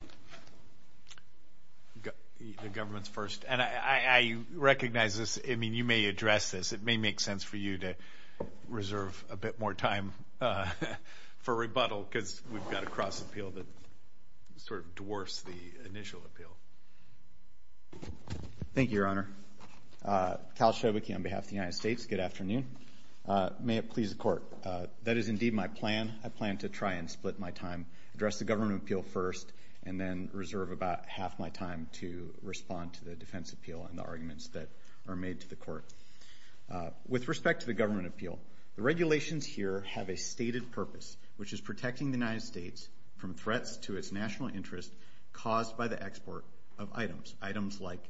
Cal Shoebicki Cal Shoebicki, on behalf of the United States, good afternoon. May it please the Court, that is indeed my plan. I plan to try and split my time, address the government appeal first, and then reserve about half my time to respond to the defense appeal and the arguments that are made to the Court. With respect to the government appeal, the regulations here have a stated purpose, which is protecting the United States from threats to its national interest caused by the export of items, items like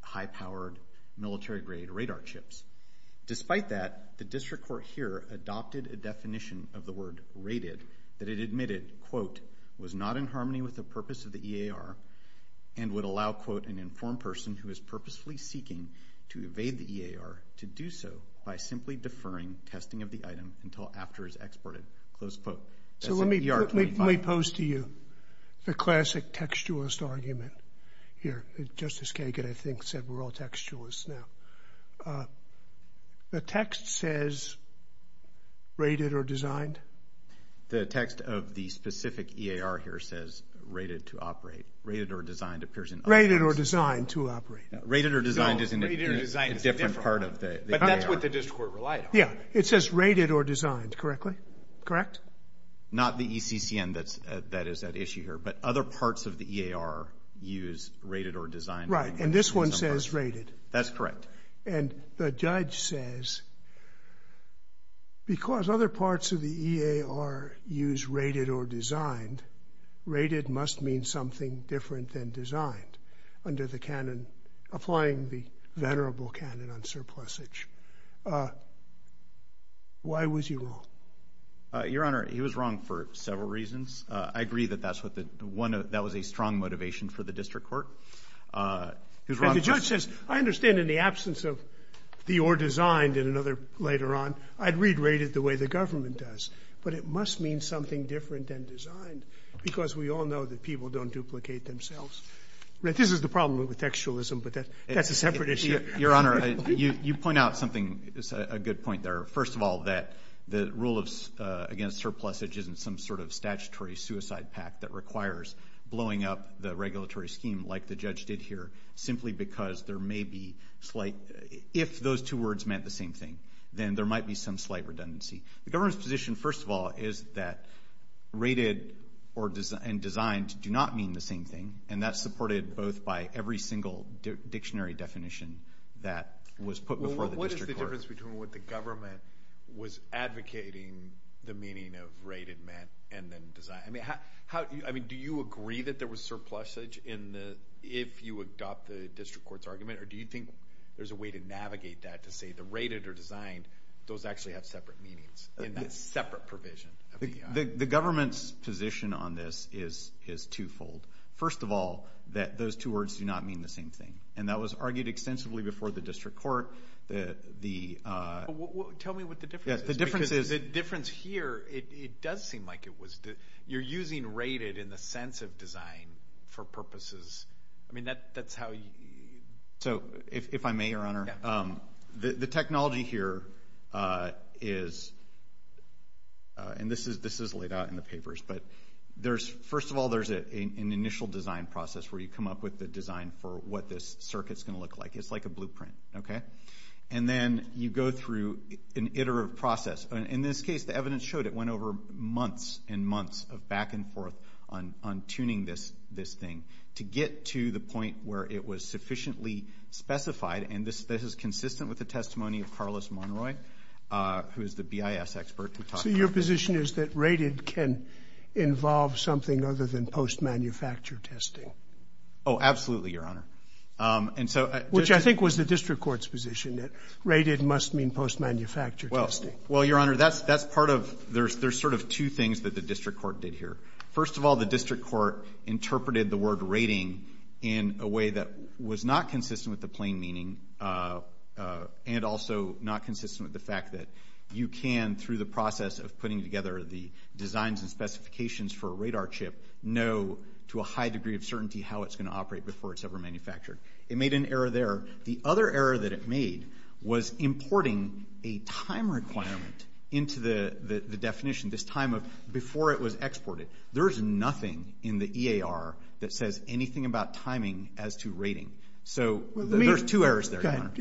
high-powered, military-grade radar chips. Despite that, the District Court here adopted a definition of the word, rated, that it admitted, quote, was not in harmony with the purpose of the EAR, and would allow, quote, an informed person who is purposefully seeking to evade the EAR to do so by simply deferring testing of the item until after it is exported, close quote. So let me pose to you the classic textualist argument here. Justice Kagan, I believe. Rated or designed? The text of the specific EAR here says rated to operate. Rated or designed appears in other parts. Rated or designed to operate. Rated or designed is in a different part of the EAR. But that's what the District Court relied on. Yeah, it says rated or designed, correctly? Correct? Not the ECCN that is at issue here, but other parts of the EAR use rated or designed. Right, and this one says rated. That's correct. And the judge says, because other parts of the EAR use rated or designed, rated must mean something different than designed under the canon, applying the venerable canon on surplusage. Why was he wrong? Your Honor, he was wrong for several reasons. I agree that that was a strong motivation for the District Court. And the judge says, I understand in the absence of the or designed and another later on, I'd read rated the way the government does. But it must mean something different than designed, because we all know that people don't duplicate themselves. This is the problem with textualism, but that's a separate issue. Your Honor, you point out something, a good point there. First of all, that the rule against surplusage isn't some sort of statutory suicide pact that requires blowing up the regulatory scheme like the judge did here, simply because there may be slight, if those two words meant the same thing, then there might be some slight redundancy. The government's position, first of all, is that rated and designed do not mean the same thing, and that's supported both by every single dictionary definition that was put before the District Court. Well, what is the difference between what the government was advocating the meaning of rated meant and then designed? I mean, do you agree that there was surplusage if you adopt the District Court's argument, or do you think there's a way to navigate that to say the rated or designed, those actually have separate meanings in that separate provision? The government's position on this is twofold. First of all, that those two words do not mean the same thing, and that was argued extensively before the District Court. Tell me what the difference is. The difference here, it does seem like it was. You're using rated in the sense of design for purposes. I mean, that's how you... So, if I may, Your Honor, the technology here is, and this is laid out in the papers, but first of all, there's an initial design process where you come up with the design for what this circuit's going to look like. It's like a blueprint, okay? And then you go through an iterative process. In this case, the evidence showed it went over months and months of back and forth on tuning this thing to get to the point where it was sufficiently specified, and this is consistent with the testimony of Carlos Monroy, who is the BIS expert. So your position is that rated can involve something other than post-manufacture testing? Oh, absolutely, Your Honor. Which I think was the District Court's position that rated must mean post-manufacture testing. Well, Your Honor, that's part of... There's sort of two things that the District Court did here. First of all, the District Court interpreted the word rating in a way that was not consistent with the plain meaning, and also not consistent with the fact that you can, through the process of putting together the designs and specifications for a radar chip, know to a high degree of certainty how it's going to operate before it's ever manufactured. It made an error there. The other error that it made was importing a time requirement into the definition, this time of before it was exported. There's nothing in the EAR that says anything about timing as to rating. So there's two errors there, Your Honor.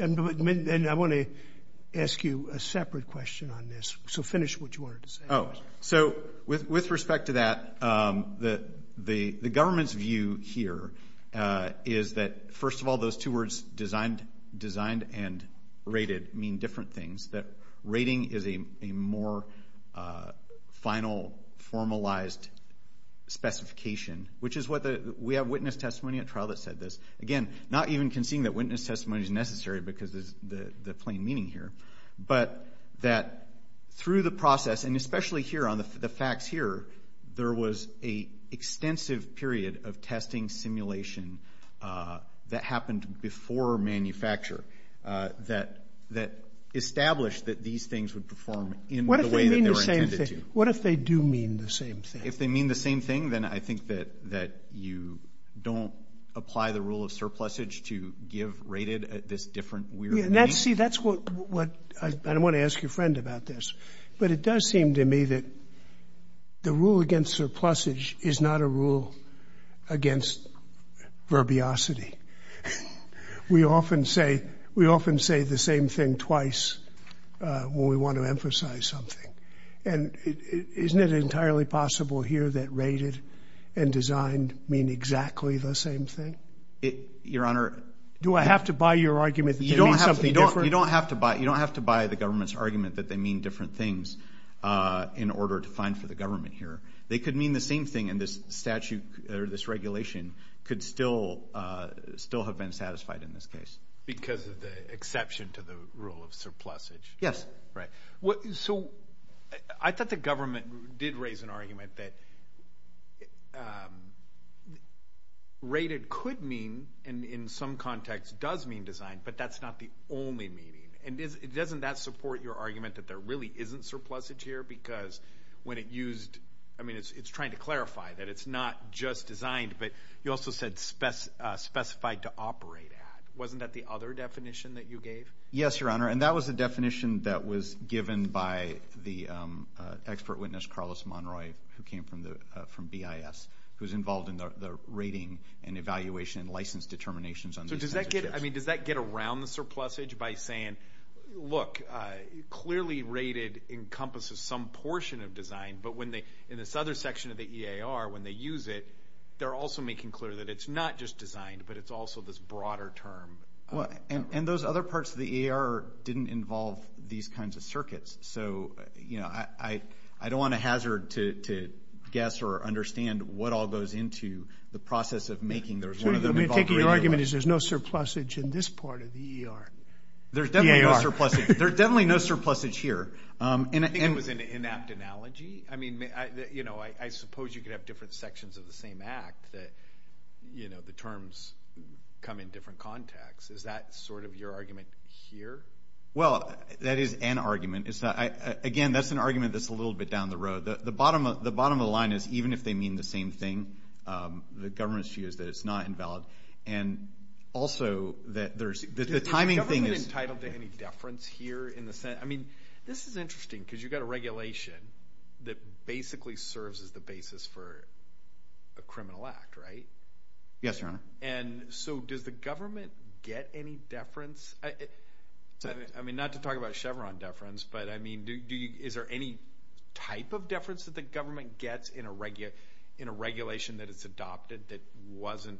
And I want to ask you a separate question on this. So finish what you wanted to say. Oh. So with respect to that, the government's view here is that, first of all, those two words, designed and rated, mean different things. That rating is a more final, formalized specification, which is what the... We have witness testimony at trial that said this. Again, not even conceding that witness testimony is necessary because of the plain meaning here. But that through the process, and especially here on the facts here, there was an extensive period of testing simulation that happened before manufacture, that established that these things would perform in the way that they were intended to. What if they do mean the same thing? If they mean the same thing, then I think that you don't apply the rule of surplusage to give rated this different weird name? See, that's what... I don't want to ask your friend about this, but it does seem to me that the rule against surplusage is not a rule against verbiosity. We often say the same thing twice when we want to emphasize something. And isn't it entirely possible here that rated and designed mean exactly the same thing? Your Honor... Do I have to buy your argument that they mean something different? You don't have to buy the government's argument that they mean different things in order to find for the government here. They could mean the same thing, and this statute or this regulation could still have been satisfied in this case. Because of the exception to the rule of surplusage? Yes. Right. So I thought the government did raise an argument that rated could mean, and in some contexts does mean designed, but that's not the only meaning. And doesn't that support your argument that there really isn't surplusage here? Because when it used... I mean, it's trying to clarify that it's not just designed, but you also said specified to operate at. Wasn't that the other definition that you gave? Yes, Your Honor. And that was the definition that was expert witnessed, Carlos Monroy, who came from BIS, who's involved in the rating and evaluation and license determinations on these... So does that get... I mean, does that get around the surplusage by saying, look, clearly rated encompasses some portion of design, but when they... In this other section of the EAR, when they use it, they're also making clear that it's not just designed, but it's also this broader term... And those other parts of the EAR didn't involve these kinds of circuits. So I don't want a hazard to guess or understand what all goes into the process of making... There's one of them involved... So you're taking the argument is there's no surplusage in this part of the EAR? There's definitely no surplusage. There's definitely no surplusage here. I think it was an inapt analogy. I mean, I suppose you could have different sections of the same act that the terms come in different contexts. Is that sort of your argument? Do you have an argument here? Well, that is an argument. Again, that's an argument that's a little bit down the road. The bottom of the line is even if they mean the same thing, the government's view is that it's not invalid. And also that there's... Is the government entitled to any deference here in the Senate? I mean, this is interesting because you've got a regulation that basically serves as the basis for a criminal act, right? Yes, Your Honor. And so does the government get any deference? I mean, not to talk about Chevron deference, but I mean, is there any type of deference that the government gets in a regulation that it's adopted that wasn't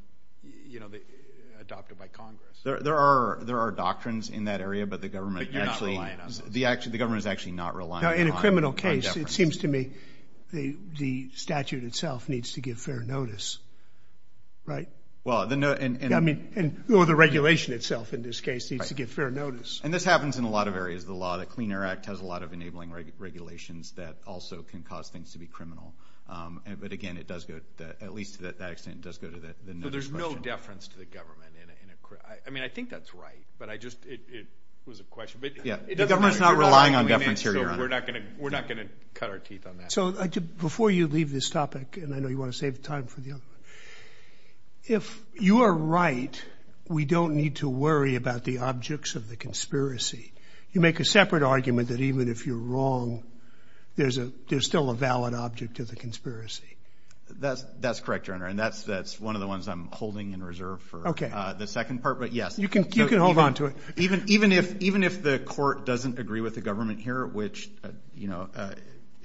adopted by Congress? There are doctrines in that area, but the government is actually not reliant on deference. In a criminal case, it seems to me the statute itself needs to give fair notice, right? Well, the... I mean, or the regulation itself in this case needs to give fair notice. And this happens in a lot of areas. The Clean Air Act has a lot of enabling regulations that also can cause things to be criminal. But again, it does go, at least to that extent, it does go to the notice question. So there's no deference to the government in a... I mean, I think that's right, but I just... It was a question, but it doesn't really... The government's not relying on deference here, Your Honor. We're not going to cut our teeth on that. So before you leave this topic, and I know you want to save time for the other one, if you are right, we don't need to worry about the objects of the conspiracy. You make a separate argument that even if you're wrong, there's still a valid object to the conspiracy. That's correct, Your Honor. And that's one of the ones I'm holding in reserve for the second part, but yes. You can hold on to it. Even if the court doesn't agree with the government here, which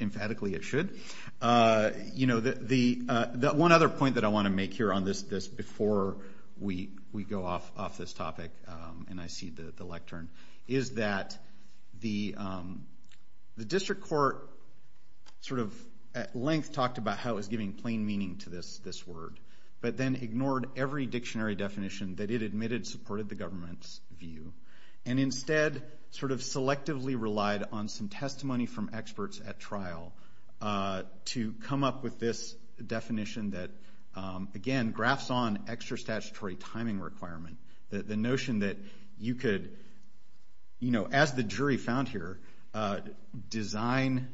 emphatically it should, one other point that I want to make here on this before we go off this topic, and I cede the lectern, is that the district court sort of at length talked about how it was giving plain meaning to this word, but then ignored every dictionary definition that it admitted supported the And instead sort of selectively relied on some testimony from experts at trial to come up with this definition that, again, graphs on extra statutory timing requirement. The notion that you could, as the jury found here, design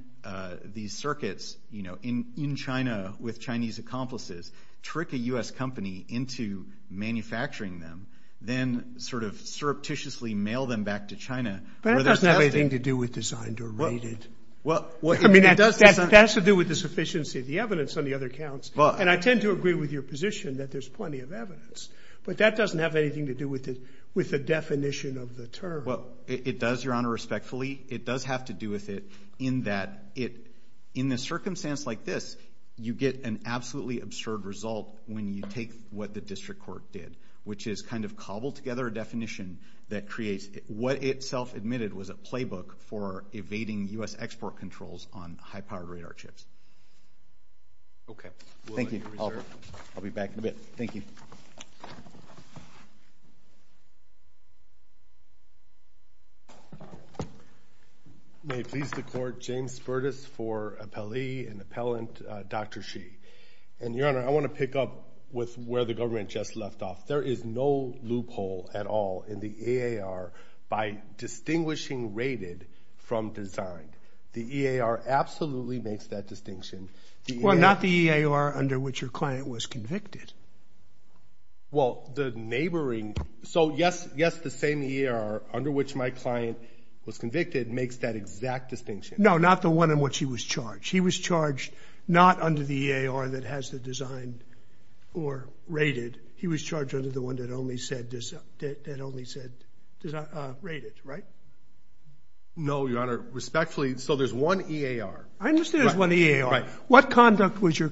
these circuits in China with Chinese accomplices, trick a U.S. company into manufacturing them, then sort of surreptitiously mail them back to China. But that doesn't have anything to do with designed or rated. Well, I mean, that has to do with the sufficiency of the evidence on the other counts, and I tend to agree with your position that there's plenty of evidence, but that doesn't have anything to do with the definition of the term. Well, it does, Your Honor, respectfully. It does have to do with it in that in a circumstance like this, you get an absolutely absurd result when you take what the district court did, which is kind of cobbled together a definition that creates what itself admitted was a playbook for evading U.S. export controls on high-powered radar chips. Okay. Thank you. I'll be back in a bit. Thank you. May it please the Court, James Furtis for appellee and appellant, Dr. Sheehy. And, Your Honor, I want to pick up with where the government just left off. There is no loophole at all in the EAR by distinguishing rated from designed. The EAR absolutely makes that distinction. Well, not the EAR under which your client was convicted. Well, the neighboring. So, yes, the same EAR under which my client was convicted makes that exact distinction. No, not the one in which he was charged. He was charged not under the EAR that has the designed or rated. He was charged under the one that only said rated, right? No, Your Honor, respectfully. So, there's one EAR. I understand there's one EAR. Right. What conduct was your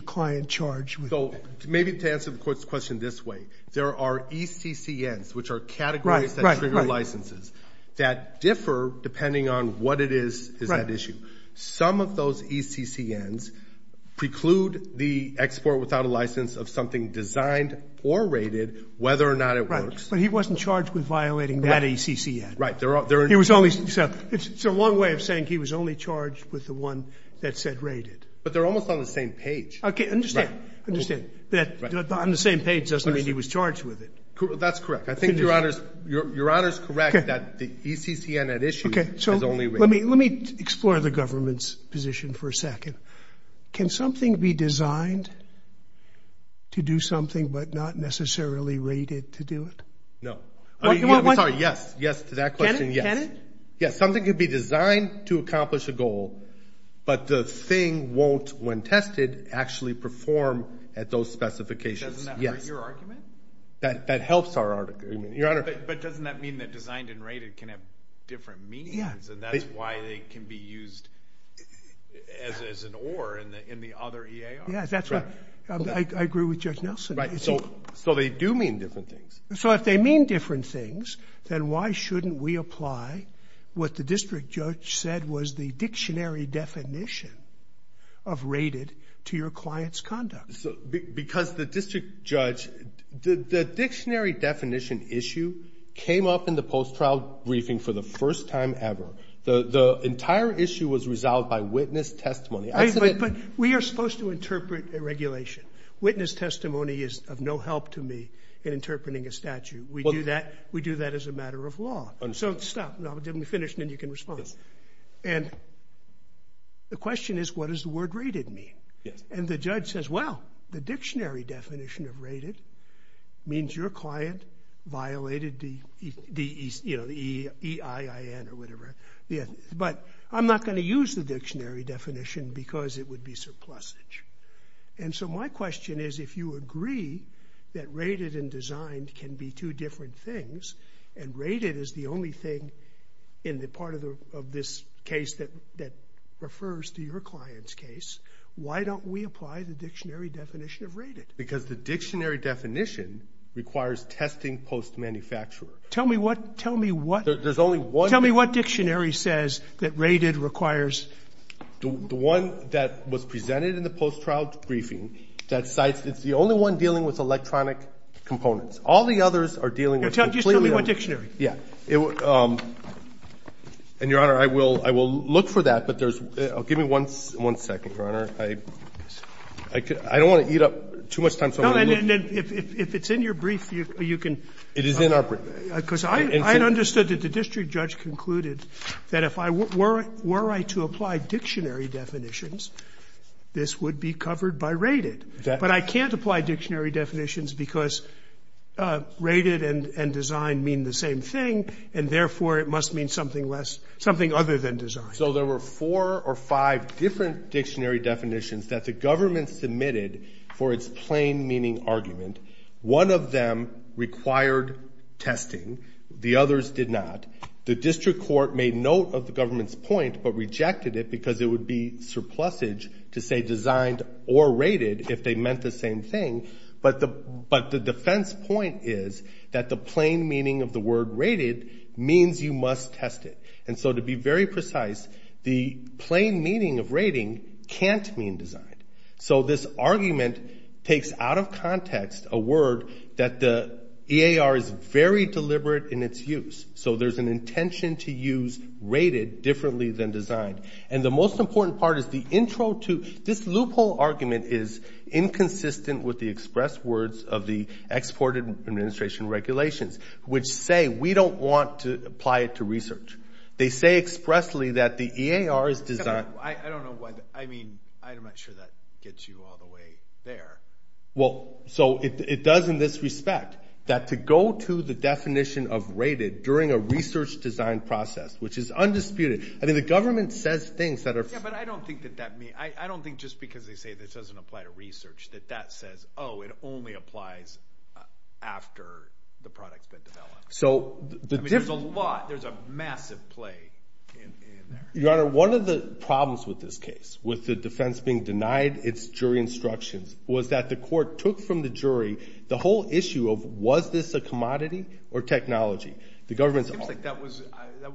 client charged with? So, maybe to answer the Court's question this way, there are ECCNs, which are categories that trigger licenses, that differ depending on what it is that issue. Some of those ECCNs preclude the export without a license of something designed or rated, whether or not it works. Right. But he wasn't charged with violating that ECCN. Right. It's a long way of saying he was only charged with the one that said rated. But they're almost on the same page. Okay. I understand. I understand. But on the same page doesn't mean he was charged with it. That's correct. I think Your Honor's correct that the ECCN at issue has only rated. Let me explore the government's position for a second. Can something be designed to do something but not necessarily rated to do it? No. I'm sorry. Yes. Yes to that question. Can it? Yes. Something can be designed to accomplish a goal, but the thing won't, when tested, actually perform at those specifications. Doesn't that hurt your argument? That helps our argument. Your Honor. But doesn't that mean that designed and rated can have different meanings? Yeah. And that's why they can be used as an or in the other EAR. Yes, that's right. I agree with Judge Nelson. Right. So they do mean different things. So if they mean different things, then why shouldn't we apply what the district judge said was the dictionary definition of rated to your client's conduct? Because the district judge, the dictionary definition issue came up in the post-trial briefing for the first time ever. The entire issue was resolved by witness testimony. We are supposed to interpret a regulation. Witness testimony is of no help to me in interpreting a statute. We do that as a matter of law. Understood. So stop. Let me finish and then you can respond. Yes. And the question is what does the word rated mean? Yes. And the judge says, well, the dictionary definition of rated means your client violated the EIN or whatever. But I'm not going to use the dictionary definition because it would be surplusage. And so my question is if you agree that rated and designed can be two different things and rated is the only thing in the part of this case that refers to your client's case, why don't we apply the dictionary definition of rated? Because the dictionary definition requires testing post-manufacturer. Tell me what? There's only one. Tell me what dictionary says that rated requires. The one that was presented in the post-trial briefing that cites it's the only one dealing with electronic components. All the others are dealing with completely other. Just tell me what dictionary. Yes. And, Your Honor, I will look for that, but there's one. Give me one second, Your Honor. I don't want to eat up too much time. No, and if it's in your brief, you can. It is in our brief. Because I understood that the district judge concluded that if I were to apply dictionary definitions, this would be covered by rated. But I can't apply dictionary definitions because rated and designed mean the same thing, and therefore it must mean something less, something other than designed. So there were four or five different dictionary definitions that the government submitted for its plain meaning argument. One of them required testing. The others did not. The district court made note of the government's point but rejected it because it would be surplusage to say designed or rated if they meant the same thing. But the defense point is that the plain meaning of the word rated means you must test it. And so to be very precise, the plain meaning of rating can't mean designed. So this argument takes out of context a word that the EAR is very deliberate in its use. So there's an intention to use rated differently than designed. And the most important part is the intro to this loophole argument is inconsistent with the express words of the exported administration regulations, which say we don't want to apply it to research. They say expressly that the EAR is designed. I don't know why. I mean I'm not sure that gets you all the way there. Well, so it does in this respect that to go to the definition of rated during a research design process, which is undisputed. I mean the government says things that are – Yeah, but I don't think that that means – I don't think just because they say this doesn't apply to research that that says, oh, it only applies after the product's been developed. So the – I mean there's a lot. There's a massive play in there. Your Honor, one of the problems with this case, with the defense being denied its jury instructions, was that the court took from the jury the whole issue of was this a commodity or technology. The government's – It seems like that was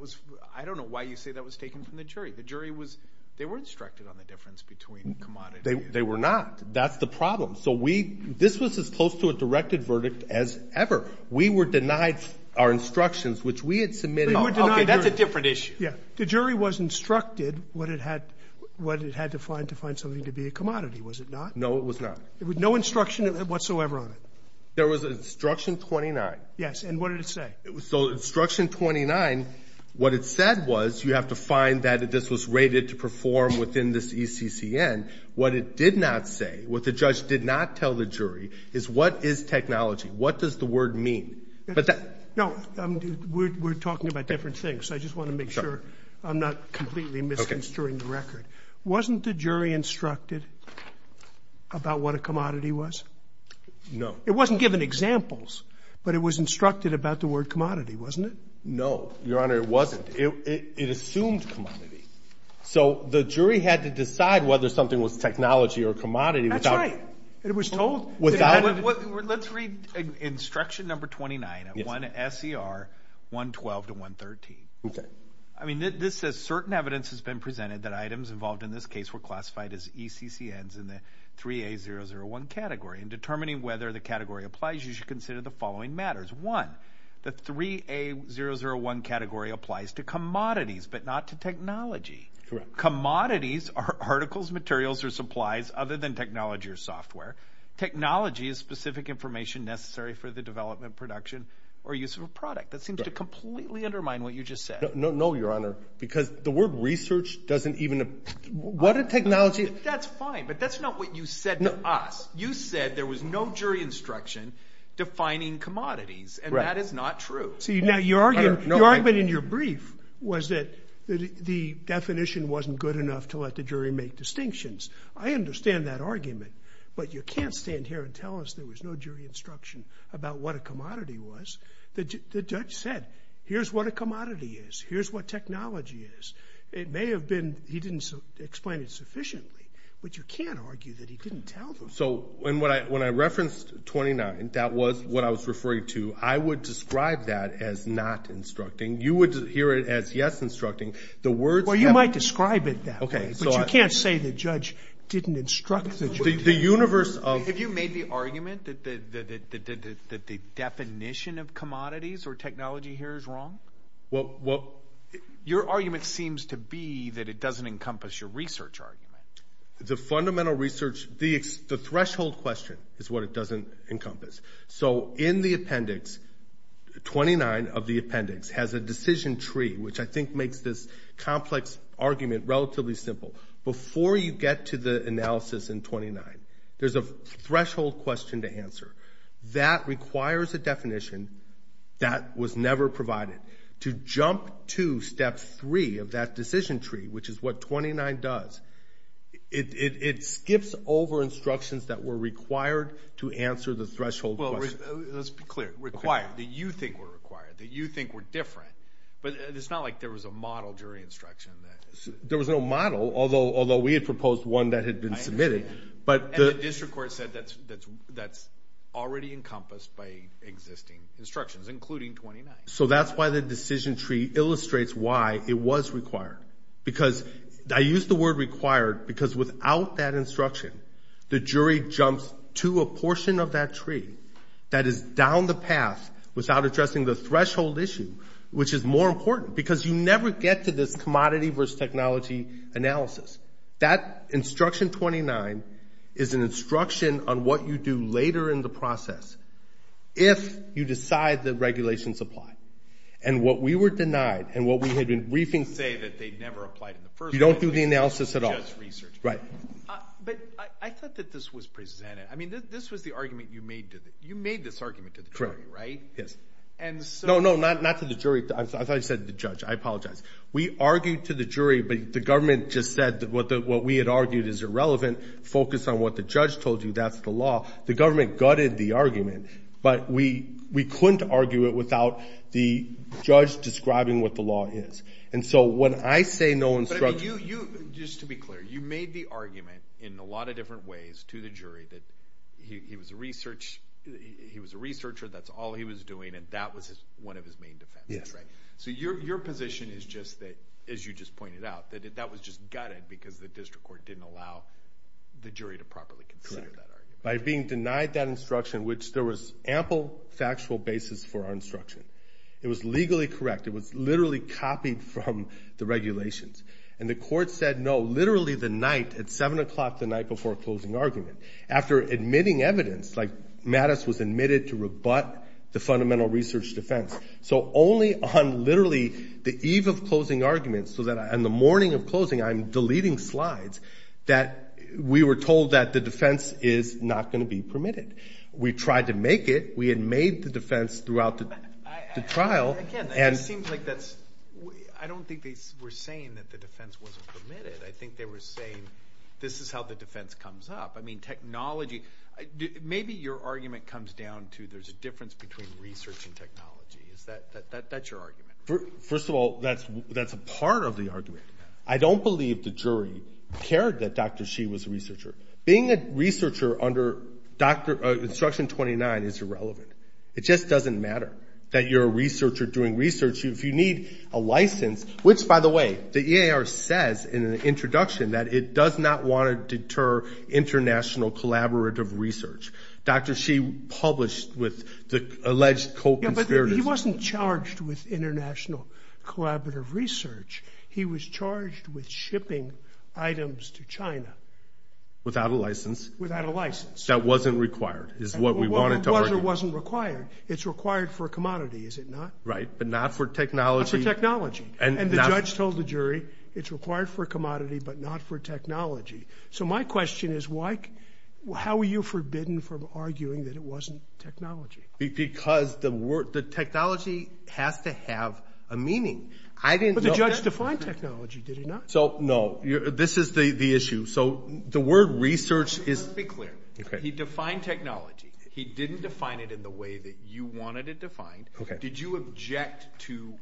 – I don't know why you say that was taken from the jury. The jury was – they were instructed on the difference between commodity – They were not. That's the problem. So we – this was as close to a directed verdict as ever. We were denied our instructions, which we had submitted – But you were denied – Okay, that's a different issue. Yeah. The jury was instructed what it had to find to find something to be a commodity, was it not? No, it was not. No instruction whatsoever on it? There was instruction 29. Yes, and what did it say? So instruction 29, what it said was you have to find that this was rated to perform within this ECCN. What it did not say, what the judge did not tell the jury, is what is technology? What does the word mean? No, we're talking about different things, so I just want to make sure I'm not completely misconstruing the record. Wasn't the jury instructed about what a commodity was? No. It wasn't given examples, but it was instructed about the word commodity, wasn't it? No, Your Honor, it wasn't. It assumed commodity. So the jury had to decide whether something was technology or commodity without – That's right. It was told without – Let's read instruction number 29 at 1 S.E.R. 112 to 113. Okay. I mean, this says, Certain evidence has been presented that items involved in this case were classified as ECCNs in the 3A001 category. In determining whether the category applies, you should consider the following matters. One, the 3A001 category applies to commodities but not to technology. Correct. Commodities are articles, materials, or supplies other than technology or software. Technology is specific information necessary for the development, production, or use of a product. That seems to completely undermine what you just said. No, Your Honor, because the word research doesn't even – What a technology – That's fine, but that's not what you said to us. You said there was no jury instruction defining commodities, and that is not true. See, now, your argument in your brief was that the definition wasn't good enough to let the jury make distinctions. I understand that argument, but you can't stand here and tell us there was no jury instruction about what a commodity was. The judge said, here's what a commodity is. Here's what technology is. It may have been he didn't explain it sufficiently, but you can't argue that he didn't tell them. So when I referenced 29, that was what I was referring to. I would describe that as not instructing. You would hear it as, yes, instructing. The words have – Well, you might describe it that way. Okay. But you can't say the judge didn't instruct the jury. The universe of – Have you made the argument that the definition of commodities or technology here is wrong? Well – Your argument seems to be that it doesn't encompass your research argument. The fundamental research – the threshold question is what it doesn't encompass. So in the appendix, 29 of the appendix has a decision tree, which I think makes this complex argument relatively simple. Before you get to the analysis in 29, there's a threshold question to answer. That requires a definition that was never provided. To jump to step three of that decision tree, which is what 29 does, it skips over instructions that were required to answer the threshold question. Well, let's be clear. Required, that you think were required, that you think were different. But it's not like there was a model jury instruction. There was no model, although we had proposed one that had been submitted. And the district court said that's already encompassed by existing instructions, including 29. So that's why the decision tree illustrates why it was required. Because I use the word required because without that instruction, the jury jumps to a portion of that tree that is down the path without addressing the threshold issue, which is more important. Because you never get to this commodity versus technology analysis. That instruction 29 is an instruction on what you do later in the process if you decide that regulations apply. And what we were denied and what we had been briefing say that they never applied in the first place. You don't do the analysis at all. Just research. Right. But I thought that this was presented. I mean, this was the argument you made. You made this argument to the jury, right? Yes. No, no, not to the jury. I thought you said the judge. I apologize. We argued to the jury, but the government just said what we had argued is irrelevant. Focus on what the judge told you. That's the law. The government gutted the argument. But we couldn't argue it without the judge describing what the law is. And so when I say no instruction. But, I mean, you, just to be clear, you made the argument in a lot of different ways to the jury that he was a researcher, that's all he was doing, and that was one of his main defenses, right? Yes. So your position is just that, as you just pointed out, that that was just gutted because the district court didn't allow the jury to properly consider that argument. By being denied that instruction, which there was ample factual basis for our instruction. It was legally correct. It was literally copied from the regulations. And the court said no literally the night, at 7 o'clock the night before closing argument. After admitting evidence, like Mattis was admitted to rebut the fundamental research defense. So only on literally the eve of closing arguments, so that on the morning of closing, I'm deleting slides, that we were told that the defense is not going to be permitted. We tried to make it. We had made the defense throughout the trial. Again, it seems like that's, I don't think they were saying that the defense wasn't permitted. I think they were saying this is how the defense comes up. I mean, technology. Maybe your argument comes down to there's a difference between research and technology. That's your argument. First of all, that's a part of the argument. I don't believe the jury cared that Dr. Shih was a researcher. Being a researcher under instruction 29 is irrelevant. It just doesn't matter that you're a researcher doing research. Which, by the way, the EAR says in an introduction that it does not want to deter international collaborative research. Dr. Shih published with the alleged co-conspirators. He wasn't charged with international collaborative research. He was charged with shipping items to China. Without a license. Without a license. That wasn't required, is what we wanted to argue. It wasn't required. It's required for a commodity, is it not? Right, but not for technology. Not for technology. And the judge told the jury it's required for a commodity but not for technology. So my question is how were you forbidden from arguing that it wasn't technology? Because the technology has to have a meaning. But the judge defined technology, did he not? So, no. This is the issue. So the word research is... Let's be clear. He defined technology. He didn't define it in the way that you wanted it defined. Did you object to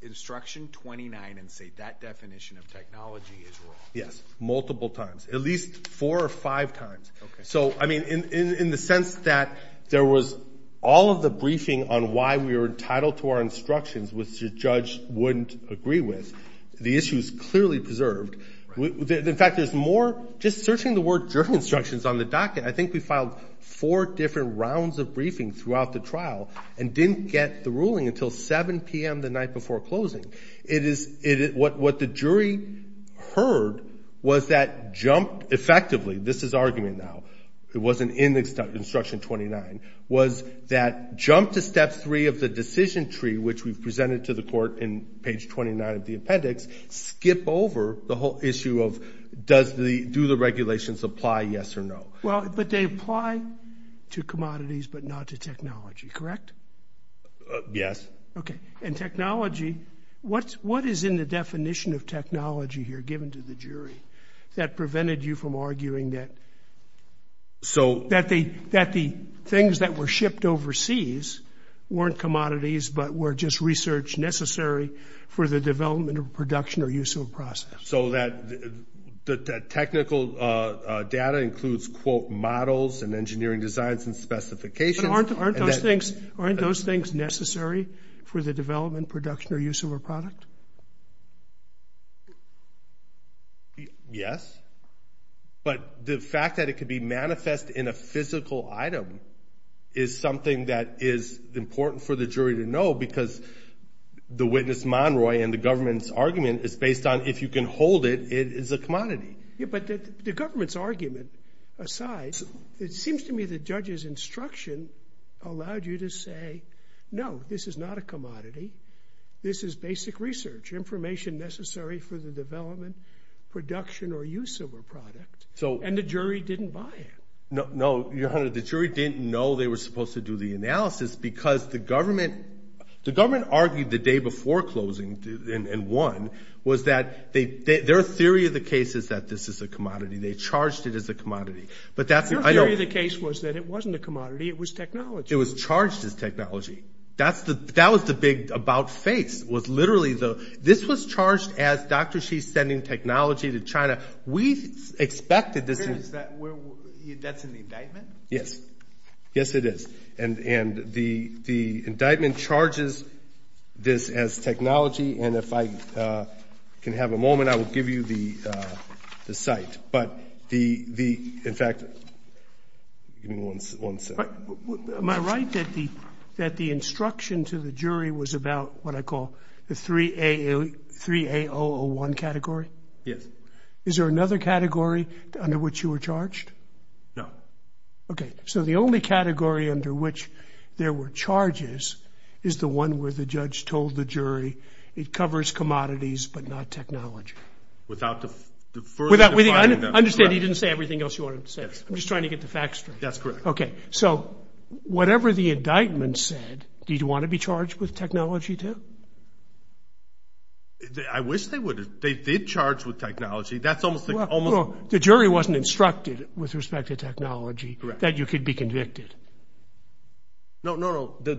instruction 29 and say that definition of technology is wrong? Yes, multiple times. At least four or five times. So, I mean, in the sense that there was all of the briefing on why we were entitled to our instructions, which the judge wouldn't agree with, the issue is clearly preserved. In fact, there's more... Just searching the word jury instructions on the docket, I think we filed four different rounds of briefing throughout the trial and didn't get the ruling until 7 p.m. the night before closing. What the jury heard was that jump... Effectively, this is argument now. It wasn't in instruction 29. Was that jump to step three of the decision tree, which we've presented to the court in page 29 of the appendix, skip over the whole issue of do the regulations apply, yes or no? Well, but they apply to commodities but not to technology, correct? Yes. Okay. And technology, what is in the definition of technology here given to the jury that prevented you from arguing that the things that were shipped overseas weren't commodities but were just research necessary for the development of production or use of a process? So that the technical data includes, quote, models and engineering designs and specifications... But aren't those things necessary for the development, production, or use of a product? Yes. But the fact that it could be manifest in a physical item is something that is important for the jury to know because the witness, Monroy, and the government's argument is based on if you can hold it, it is a commodity. Yeah, but the government's argument aside, it seems to me the judge's instruction allowed you to say, no, this is not a commodity, this is basic research, information necessary for the development, production, or use of a product, and the jury didn't buy it. No, Your Honor, the jury didn't know they were supposed to do the analysis because the government argued the day before closing and won was that their theory of the case is that this is a commodity. They charged it as a commodity. Their theory of the case was that it wasn't a commodity, it was technology. It was charged as technology. That was the big about-face. This was charged as Dr. Xi sending technology to China. We expected this... That's an indictment? Yes. Yes, it is. And the indictment charges this as technology and if I can have a moment, I will give you the cite. But the, in fact, give me one second. Am I right that the instruction to the jury was about what I call the 3A001 category? Yes. Is there another category under which you were charged? No. Okay, so the only category under which there were charges is the one where the judge told the jury it covers commodities but not technology. Without further defining them. Understand he didn't say everything else you wanted to say. I'm just trying to get the facts straight. That's correct. Okay, so whatever the indictment said, did you want to be charged with technology too? I wish they would have. They did charge with technology. The jury wasn't instructed with respect to technology that you could be convicted. No, no, no.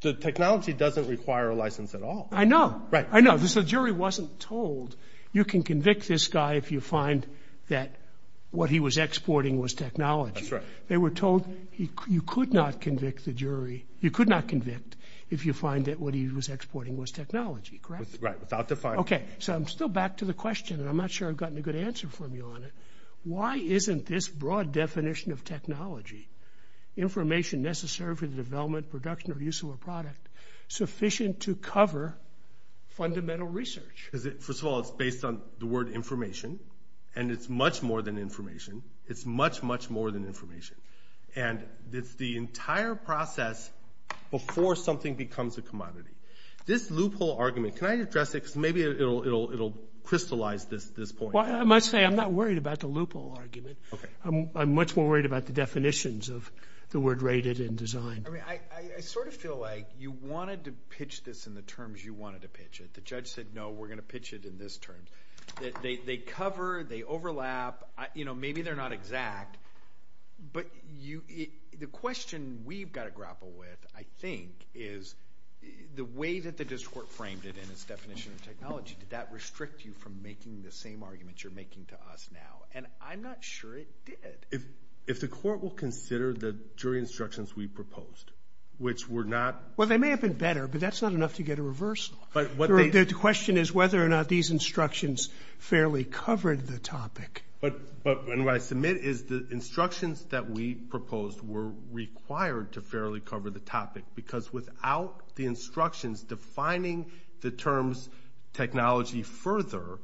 The technology doesn't require a license at all. I know. Right. I know. The jury wasn't told you can convict this guy if you find that what he was exporting was technology. That's right. They were told you could not convict the jury, you could not convict if you find that what he was exporting was technology, correct? Right, without defining it. Okay, so I'm still back to the question and I'm not sure I've gotten a good answer from you on it. Why isn't this broad definition of technology, information necessary for the development, production, or use of a product, sufficient to cover fundamental research? First of all, it's based on the word information, and it's much more than information. It's much, much more than information. And it's the entire process before something becomes a commodity. This loophole argument, can I address it? Because maybe it will crystallize this point. I must say I'm not worried about the loophole argument. I'm much more worried about the definitions of the word rated and designed. I sort of feel like you wanted to pitch this in the terms you wanted to pitch it. The judge said, no, we're going to pitch it in this term. They cover, they overlap, maybe they're not exact, but the question we've got to grapple with, I think, is the way that the district court framed it in its definition of technology, did that restrict you from making the same argument you're making to us now? And I'm not sure it did. If the court will consider the jury instructions we proposed, which were not – Well, they may have been better, but that's not enough to get a reverse law. The question is whether or not these instructions fairly covered the topic. But what I submit is the instructions that we proposed were required to fairly cover the topic because without the instructions defining the terms technology further,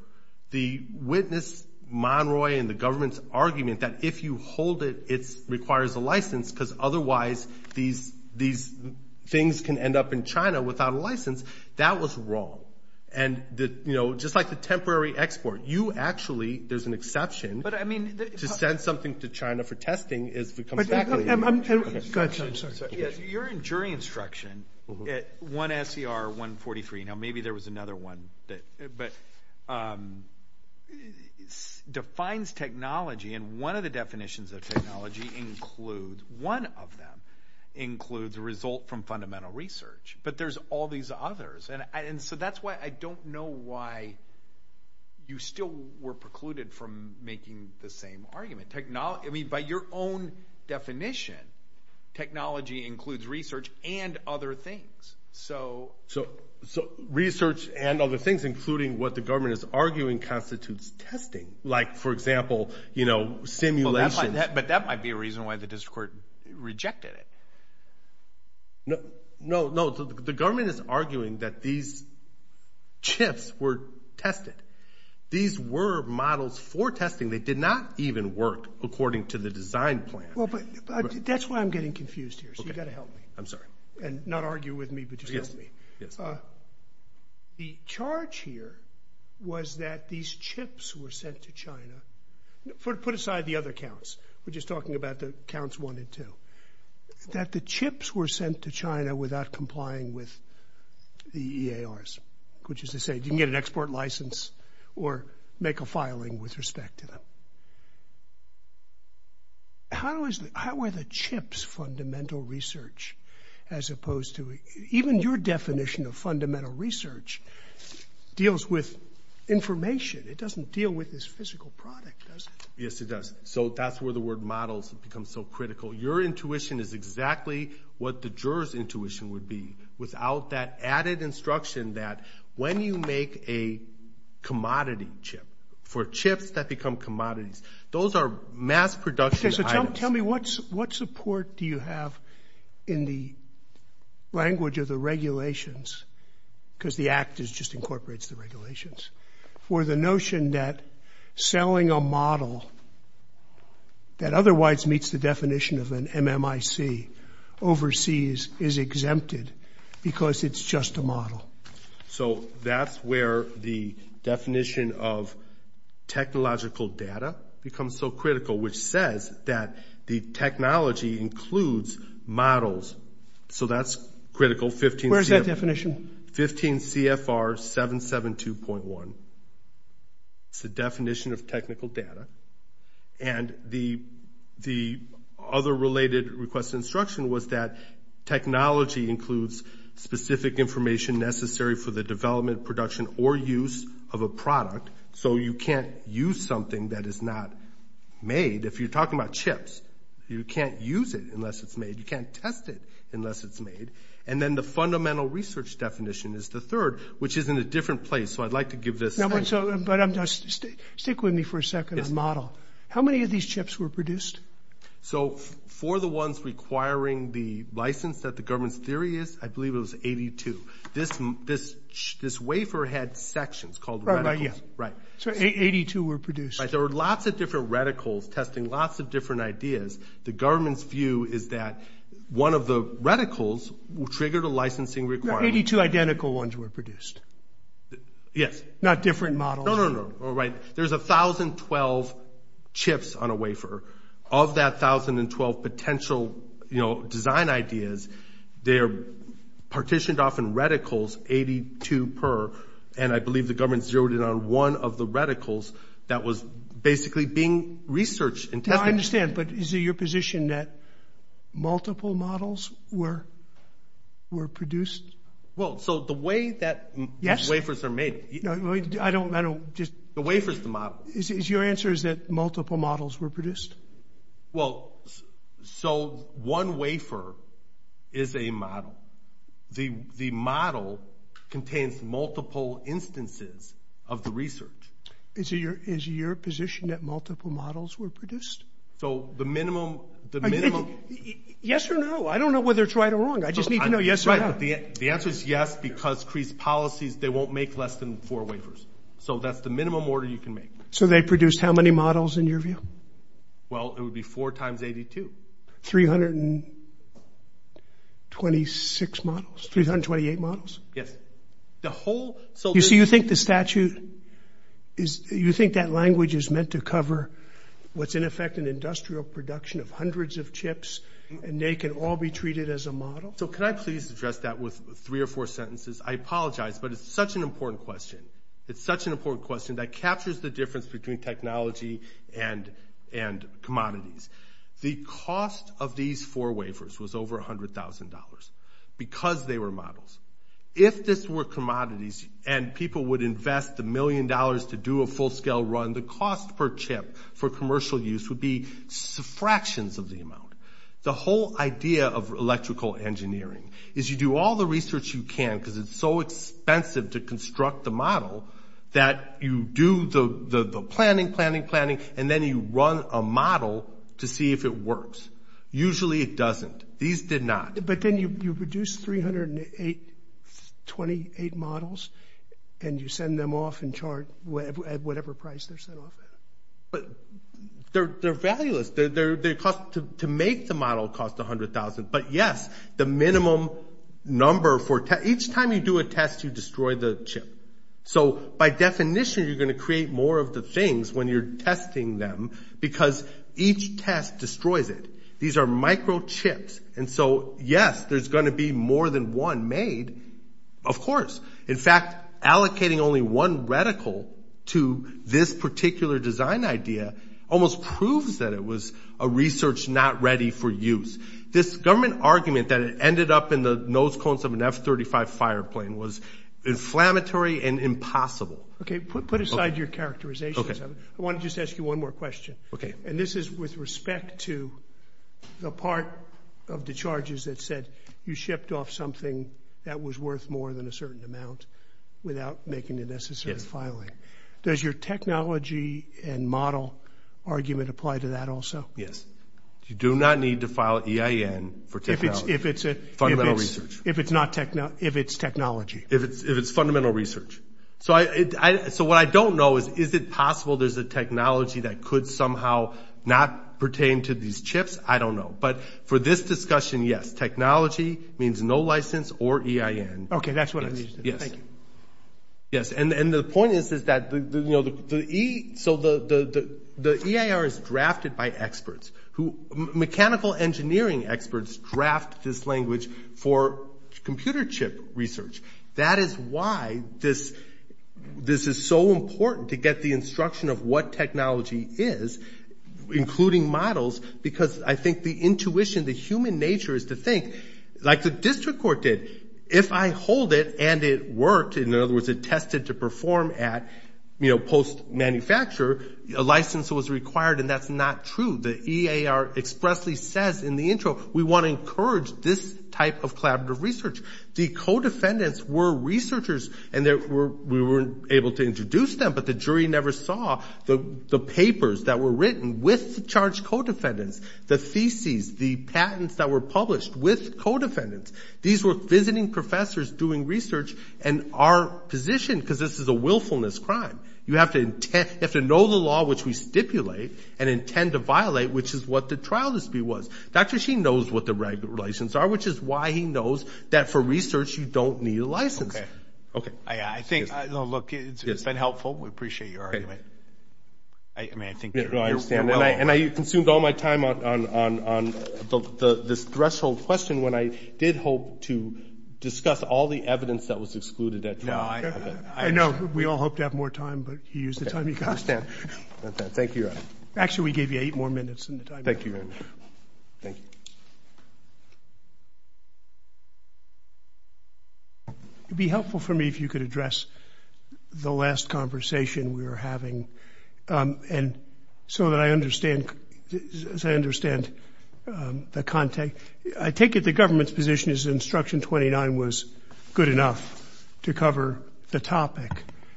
the witness, Monroy, and the government's argument that if you hold it, it requires a license because otherwise these things can end up in China without a license, that was wrong. And just like the temporary export, you actually – there's an exception. To send something to China for testing is – Go ahead. You're in jury instruction at 1 SCR 143. Now, maybe there was another one, but defines technology, and one of the definitions of technology includes – one of them includes a result from fundamental research. But there's all these others. And so that's why I don't know why you still were precluded from making the same argument. I mean, by your own definition, technology includes research and other things. So research and other things, including what the government is arguing, constitutes testing. Like, for example, simulations. But that might be a reason why the district court rejected it. No, the government is arguing that these chips were tested. These were models for testing. They did not even work according to the design plan. Well, but that's why I'm getting confused here, so you've got to help me. I'm sorry. And not argue with me, but just help me. The charge here was that these chips were sent to China. Put aside the other counts. We're just talking about the counts one and two. That the chips were sent to China without complying with the EARs, which is to say you can get an export license or make a filing with respect to them. How were the chips fundamental research as opposed to even your definition of fundamental research deals with information? It doesn't deal with this physical product, does it? Yes, it does. So that's where the word models becomes so critical. Your intuition is exactly what the juror's intuition would be. Without that added instruction that when you make a commodity chip, for chips that become commodities, those are mass production items. Okay, so tell me what support do you have in the language of the regulations, because the Act just incorporates the regulations, for the notion that selling a model that otherwise meets the definition of an MMIC overseas is exempted because it's just a model. So that's where the definition of technological data becomes so critical, which says that the technology includes models. So that's critical. Where's that definition? 15 CFR 772.1. It's the definition of technical data. And the other related request instruction was that technology includes specific information necessary for the development, production, or use of a product. So you can't use something that is not made. If you're talking about chips, you can't use it unless it's made. You can't test it unless it's made. And then the fundamental research definition is the third, which is in a different place. So I'd like to give this. Stick with me for a second on model. How many of these chips were produced? So for the ones requiring the license that the government's theory is, I believe it was 82. This wafer had sections called reticles. So 82 were produced. There were lots of different reticles testing lots of different ideas. The government's view is that one of the reticles triggered a licensing requirement. 82 identical ones were produced. Yes. Not different models. No, no, no. Right. There's 1,012 chips on a wafer. Of that 1,012 potential design ideas, they're partitioned off in reticles, 82 per. And I believe the government zeroed in on one of the reticles that was basically being researched and tested. I understand, but is it your position that multiple models were produced? Well, so the way that wafers are made. I don't know. The wafer's the model. Your answer is that multiple models were produced? Well, so one wafer is a model. The model contains multiple instances of the research. Is it your position that multiple models were produced? So the minimum. Yes or no? I don't know whether it's right or wrong. I just need to know yes or no. The answer is yes because CREES policies, they won't make less than four wafers. So that's the minimum order you can make. So they produced how many models in your view? Well, it would be 4 times 82. 326 models, 328 models? Yes. You see, you think the statute, you think that language is meant to cover what's in effect an industrial production of hundreds of chips and they can all be treated as a model? So can I please address that with three or four sentences? I apologize, but it's such an important question. It's such an important question that captures the difference between technology and commodities. The cost of these four wafers was over $100,000 because they were models. If this were commodities and people would invest the million dollars to do a full-scale run, the cost per chip for commercial use would be fractions of the amount. The whole idea of electrical engineering is you do all the research you can because it's so expensive to construct the model that you do the planning, planning, planning, and then you run a model to see if it works. Usually it doesn't. These did not. But then you produce 328 models and you send them off and chart at whatever price they're sent off at. But they're valueless. To make the model costs $100,000. But, yes, the minimum number for each time you do a test, you destroy the chip. So by definition, you're going to create more of the things when you're testing them because each test destroys it. These are microchips. And so, yes, there's going to be more than one made, of course. In fact, allocating only one reticle to this particular design idea almost proves that it was a research not ready for use. This government argument that it ended up in the nose cones of an F-35 fireplane was inflammatory and impossible. Okay, put aside your characterization. I want to just ask you one more question. Okay. And this is with respect to the part of the charges that said you shipped off something that was worth more than a certain amount without making the necessary filing. Yes. Does your technology and model argument apply to that also? Yes. You do not need to file EIN for technology. If it's not technology. If it's technology. If it's fundamental research. So what I don't know is, is it possible there's a technology that could somehow not pertain to these chips? I don't know. But for this discussion, yes. Technology means no license or EIN. Okay, that's what I understood. Yes. Thank you. Yes. And the point is that the EIR is drafted by experts. Mechanical engineering experts draft this language for computer chip research. That is why this is so important to get the instruction of what technology is, including models, because I think the intuition, the human nature is to think, like the district court did, if I hold it and it worked, in other words, it tested to perform at post-manufacture, a license was required, and that's not true. The EIR expressly says in the intro, we want to encourage this type of collaborative research. The co-defendants were researchers, and we were able to introduce them, but the jury never saw the papers that were written with the charged co-defendants, the theses, the patents that were published with co-defendants. These were visiting professors doing research and our position, because this is a willfulness crime. You have to know the law which we stipulate and intend to violate, which is what the trial dispute was. Dr. Sheen knows what the regulations are, which is why he knows that for research you don't need a license. Okay. Okay. I think, look, it's been helpful. We appreciate your argument. I mean, I think you're well on. And I consumed all my time on this threshold question when I did hope to discuss all the evidence that was excluded at trial. No, I know. We all hope to have more time, but you used the time you got. I understand. Thank you. Actually, we gave you eight more minutes than the time limit. Thank you. Thank you. It would be helpful for me if you could address the last conversation we were having, and so that I understand the context. I take it the government's position is instruction 29 was good enough to cover the topic.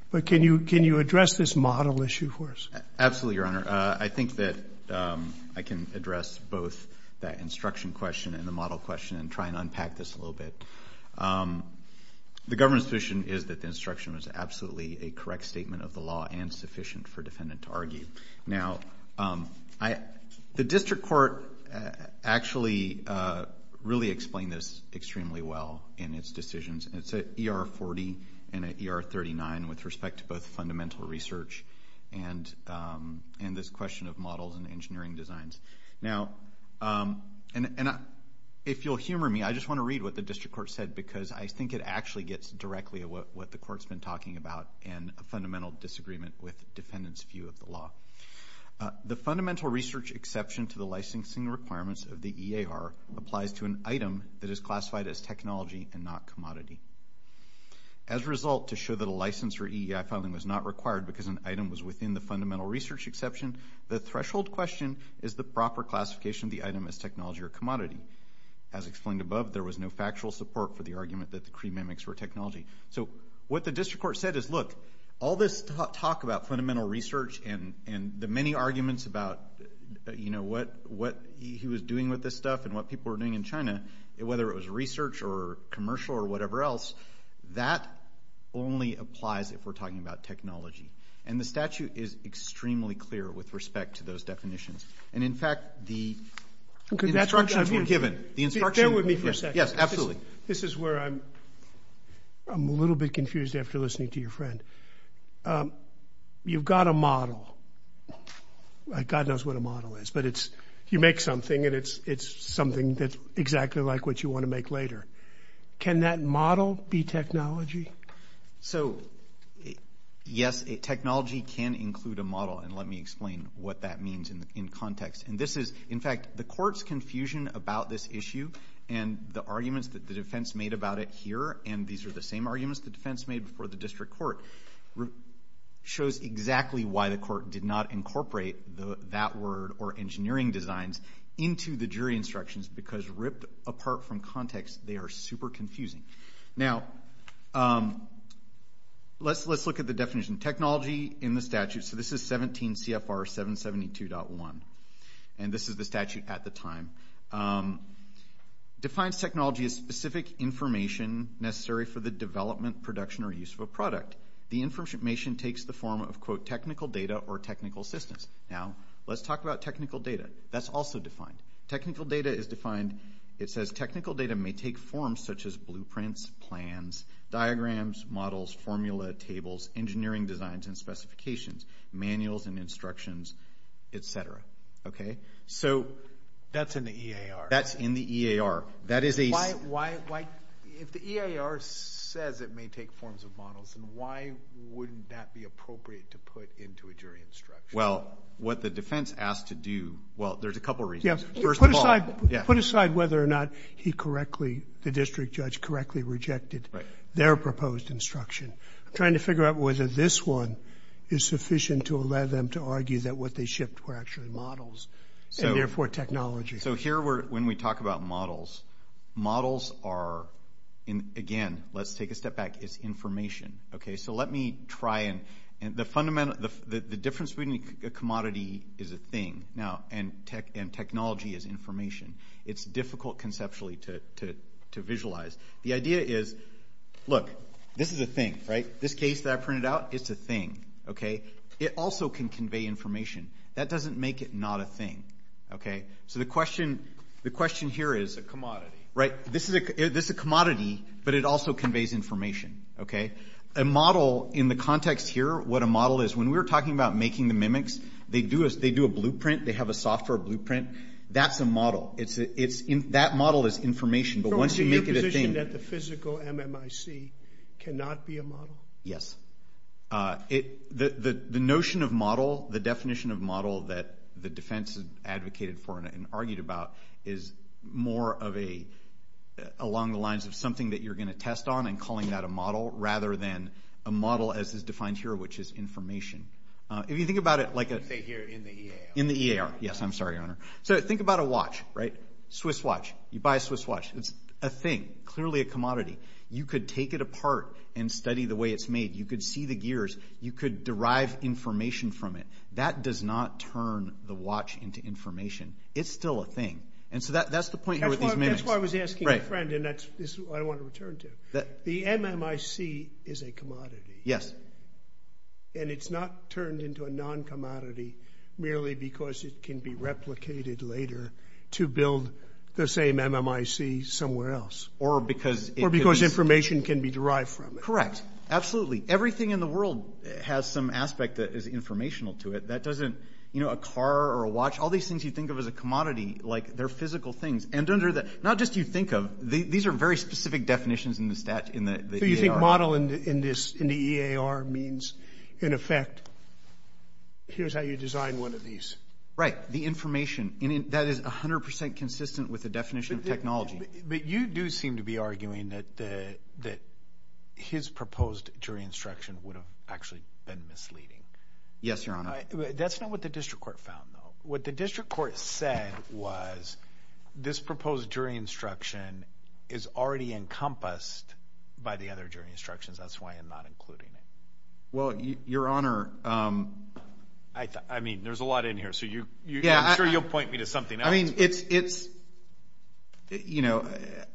But can you address this model issue for us? Absolutely, Your Honor. I think that I can address both that instruction question and the model question and try and unpack this a little bit. The government's position is that the instruction was absolutely a correct statement of the law and sufficient for a defendant to argue. Now, the district court actually really explained this extremely well in its decisions. It's an ER40 and an ER39 with respect to both fundamental research and this question of models and engineering designs. Now, if you'll humor me, I just want to read what the district court said because I think it actually gets directly at what the court's been talking about and a fundamental disagreement with the defendant's view of the law. The fundamental research exception to the licensing requirements of the EAR applies to an item that is classified as technology and not commodity. As a result, to show that a license for EEI filing was not required because an item was within the fundamental research exception, the threshold question is the proper classification of the item as technology or commodity. As explained above, there was no factual support for the argument that the Cree mimics were technology. So what the district court said is, look, all this talk about fundamental research and the many arguments about, you know, what he was doing with this stuff and what people were doing in China, whether it was research or commercial or whatever else, that only applies if we're talking about technology. And the statute is extremely clear with respect to those definitions. And, in fact, the instructions were given. Bear with me for a second. Yes, absolutely. This is where I'm a little bit confused after listening to your friend. You've got a model. God knows what a model is, but it's you make something and it's something that's exactly like what you want to make later. Can that model be technology? So, yes, technology can include a model, and let me explain what that means in context. And this is, in fact, the court's confusion about this issue and the arguments that the defense made about it here, and these are the same arguments the defense made before the district court, shows exactly why the court did not incorporate that word or engineering designs into the jury instructions because ripped apart from context, they are super confusing. Now, let's look at the definition. Technology in the statute. So this is 17 CFR 772.1, and this is the statute at the time. Defines technology as specific information necessary for the development, production, or use of a product. The information takes the form of, quote, technical data or technical assistance. Now, let's talk about technical data. That's also defined. Technical data is defined, it says technical data may take forms such as blueprints, plans, diagrams, models, formula, tables, engineering designs and specifications, manuals and instructions, et cetera. Okay. So that's in the EAR. That's in the EAR. Why, if the EAR says it may take forms of models, then why wouldn't that be appropriate to put into a jury instruction? Well, what the defense asked to do, well, there's a couple reasons. First of all. Put aside whether or not he correctly, the district judge, correctly rejected their proposed instruction. I'm trying to figure out whether this one is sufficient to allow them to argue that what they shipped were actually models and, therefore, technology. So here when we talk about models, models are, again, let's take a step back. It's information. Okay. So let me try and the difference between a commodity is a thing now and technology is information. It's difficult conceptually to visualize. The idea is, look, this is a thing, right? This case that I printed out, it's a thing. Okay. It also can convey information. That doesn't make it not a thing. Okay. So the question here is. A commodity. Right. This is a commodity, but it also conveys information. Okay. A model in the context here, what a model is, when we were talking about making the mimics, they do a blueprint. They have a software blueprint. That's a model. That model is information. But once you make it a thing. So your position that the physical MMIC cannot be a model? Yes. The notion of model, the definition of model that the defense advocated for and argued about is more along the lines of something that you're going to test on and calling that a model rather than a model as is defined here, which is information. If you think about it like a... Say here in the EAR. In the EAR. Yes. I'm sorry, Your Honor. So think about a watch, right? Swiss watch. You buy a Swiss watch. It's a thing, clearly a commodity. You could take it apart and study the way it's made. You could see the gears. You could derive information from it. That does not turn the watch into information. It's still a thing. And so that's the point here with these mimics. That's why I was asking a friend, and that's what I want to return to. The MMIC is a commodity. Yes. And it's not turned into a non-commodity merely because it can be replicated later to build the same MMIC somewhere else. Or because it could be... Or because information can be derived from it. Correct. Absolutely. Everything in the world has some aspect that is informational to it. That doesn't... You know, a car or a watch... All these things you think of as a commodity, like they're physical things. And under the... Not just you think of... These are very specific definitions in the EAR. So you think model in the EAR means, in effect, here's how you design one of these. Right. The information. That is 100 percent consistent with the definition of technology. But you do seem to be arguing that his proposed jury instruction would have actually been misleading. Yes, Your Honor. That's not what the district court found, though. What the district court said was this proposed jury instruction is already encompassed by the other jury instructions. That's why I'm not including it. Well, Your Honor... I mean, there's a lot in here, so I'm sure you'll point me to something else. I mean, it's, you know,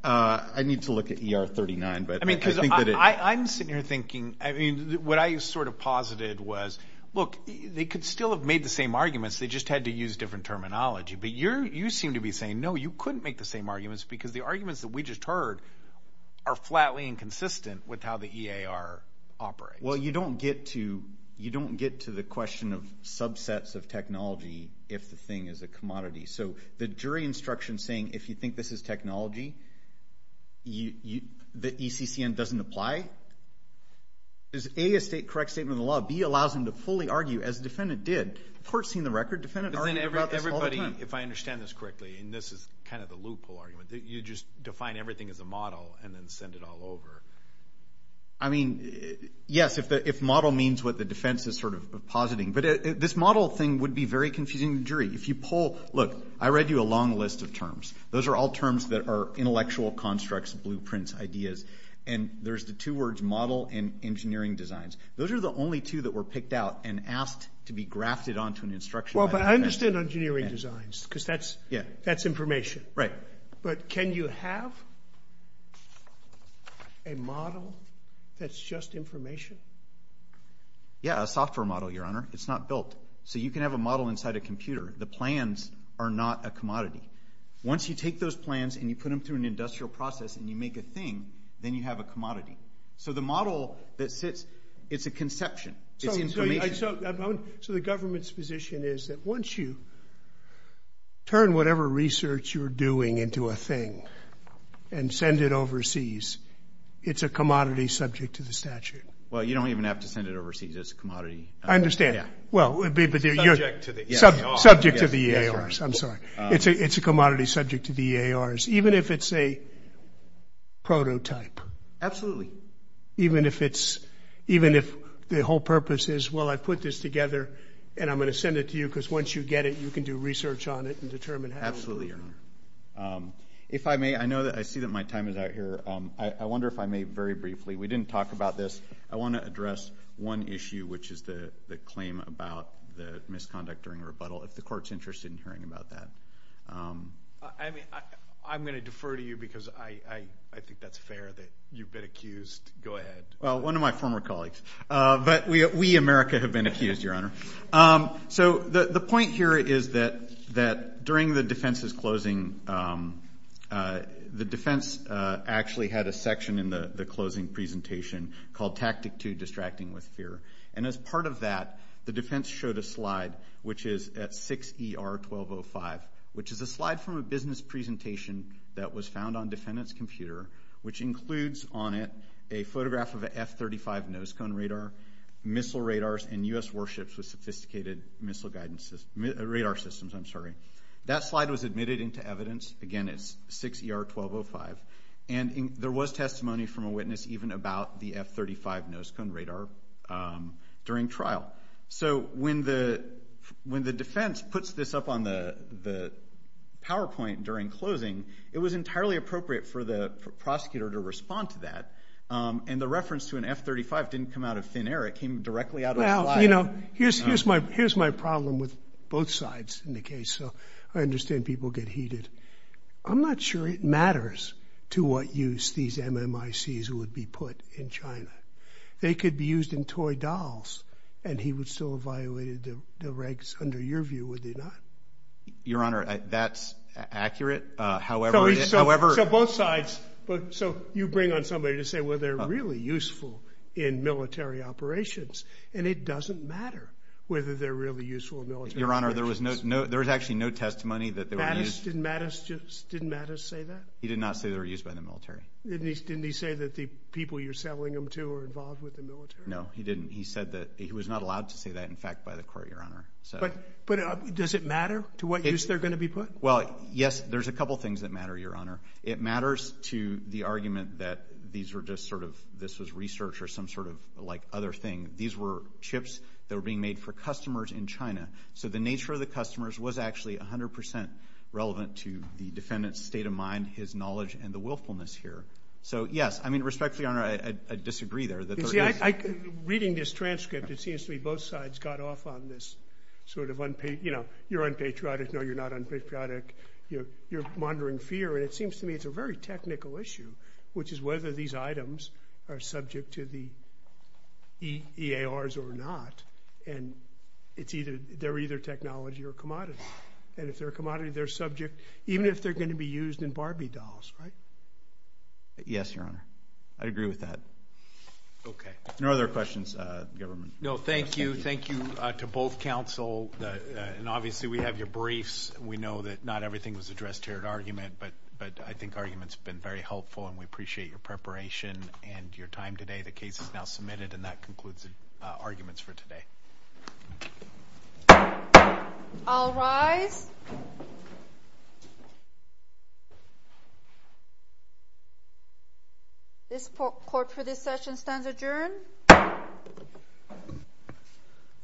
I need to look at EAR 39, but I think that it... I mean, because I'm sitting here thinking... I mean, what I sort of posited was, look, they could still have made the same arguments. They just had to use different terminology. But you seem to be saying, no, you couldn't make the same arguments because the arguments that we just heard are flatly inconsistent with how the EAR operates. Well, you don't get to the question of subsets of technology if the thing is a commodity. So the jury instruction saying, if you think this is technology, the ECCN doesn't apply, is A, a correct statement of the law. B, allows them to fully argue, as the defendant did. The court's seen the record. Defendant argued about this all the time. But then everybody, if I understand this correctly, and this is kind of the loophole argument, you just define everything as a model and then send it all over. I mean, yes, if model means what the defense is sort of positing. But this model thing would be very confusing to the jury. If you pull, look, I read you a long list of terms. Those are all terms that are intellectual constructs, blueprints, ideas. And there's the two words model and engineering designs. Those are the only two that were picked out and asked to be grafted onto an instruction. Well, but I understand engineering designs because that's information. Right. But can you have a model that's just information? Yeah, a software model, Your Honor. It's not built. So you can have a model inside a computer. The plans are not a commodity. Once you take those plans and you put them through an industrial process and you make a thing, then you have a commodity. So the model that sits, it's a conception. It's information. So the government's position is that once you turn whatever research you're doing into a thing and send it overseas, it's a commodity subject to the statute. Well, you don't even have to send it overseas. It's a commodity. I understand. Subject to the EARs. Subject to the EARs. I'm sorry. It's a commodity subject to the EARs, even if it's a prototype. Absolutely. Even if the whole purpose is, well, I put this together and I'm going to send it to you because once you get it, you can do research on it and determine how to do it. Absolutely, Your Honor. If I may, I know that I see that my time is out here. I wonder if I may very briefly. We didn't talk about this. I want to address one issue, which is the claim about the misconduct during a rebuttal, if the court's interested in hearing about that. I'm going to defer to you because I think that's fair that you've been accused. Go ahead. Well, one of my former colleagues. But we, America, have been accused, Your Honor. So the point here is that during the defense's closing, the defense actually had a section in the closing presentation called Tactic 2, Distracting with Fear. And as part of that, the defense showed a slide, which is at 6ER1205, which is a slide from a business presentation that was found on defendant's computer, which includes on it a photograph of an F-35 nose cone radar, missile radars, and U.S. warships with sophisticated radar systems. I'm sorry. That slide was admitted into evidence. Again, it's 6ER1205. And there was testimony from a witness even about the F-35 nose cone radar during trial. So when the defense puts this up on the PowerPoint during closing, it was entirely appropriate for the prosecutor to respond to that. And the reference to an F-35 didn't come out of thin air. It came directly out of the slide. You know, here's my problem with both sides in the case. I understand people get heated. I'm not sure it matters to what use these MMICs would be put in China. They could be used in toy dolls, and he would still have violated the regs, under your view, would he not? Your Honor, that's accurate. So both sides. So you bring on somebody to say, well, they're really useful in military operations, and it doesn't matter whether they're really useful in military operations. Your Honor, there was actually no testimony that they were used. Didn't Mattis say that? He did not say they were used by the military. Didn't he say that the people you're selling them to are involved with the military? No, he didn't. He said that he was not allowed to say that, in fact, by the court, Your Honor. But does it matter to what use they're going to be put? Well, yes, there's a couple things that matter, Your Honor. It matters to the argument that these were just sort of this was research or some sort of, like, other thing. These were chips that were being made for customers in China. So the nature of the customers was actually 100% relevant to the defendant's state of mind, his knowledge, and the willfulness here. So, yes, I mean, respectfully, Your Honor, I disagree there. You see, reading this transcript, it seems to me both sides got off on this sort of, you know, you're unpatriotic, no, you're not unpatriotic, you're monitoring fear, and it seems to me it's a very technical issue, which is whether these items are subject to the EARs or not. And they're either technology or commodity. And if they're a commodity, they're subject, even if they're going to be used in Barbie dolls, right? Yes, Your Honor. I agree with that. Okay. No other questions? No, thank you. Thank you to both counsel. And obviously we have your briefs. We know that not everything was addressed here at argument, but I think argument's been very helpful, and we appreciate your preparation and your time today. The case is now submitted, and that concludes arguments for today. I'll rise. This court for this session stands adjourned.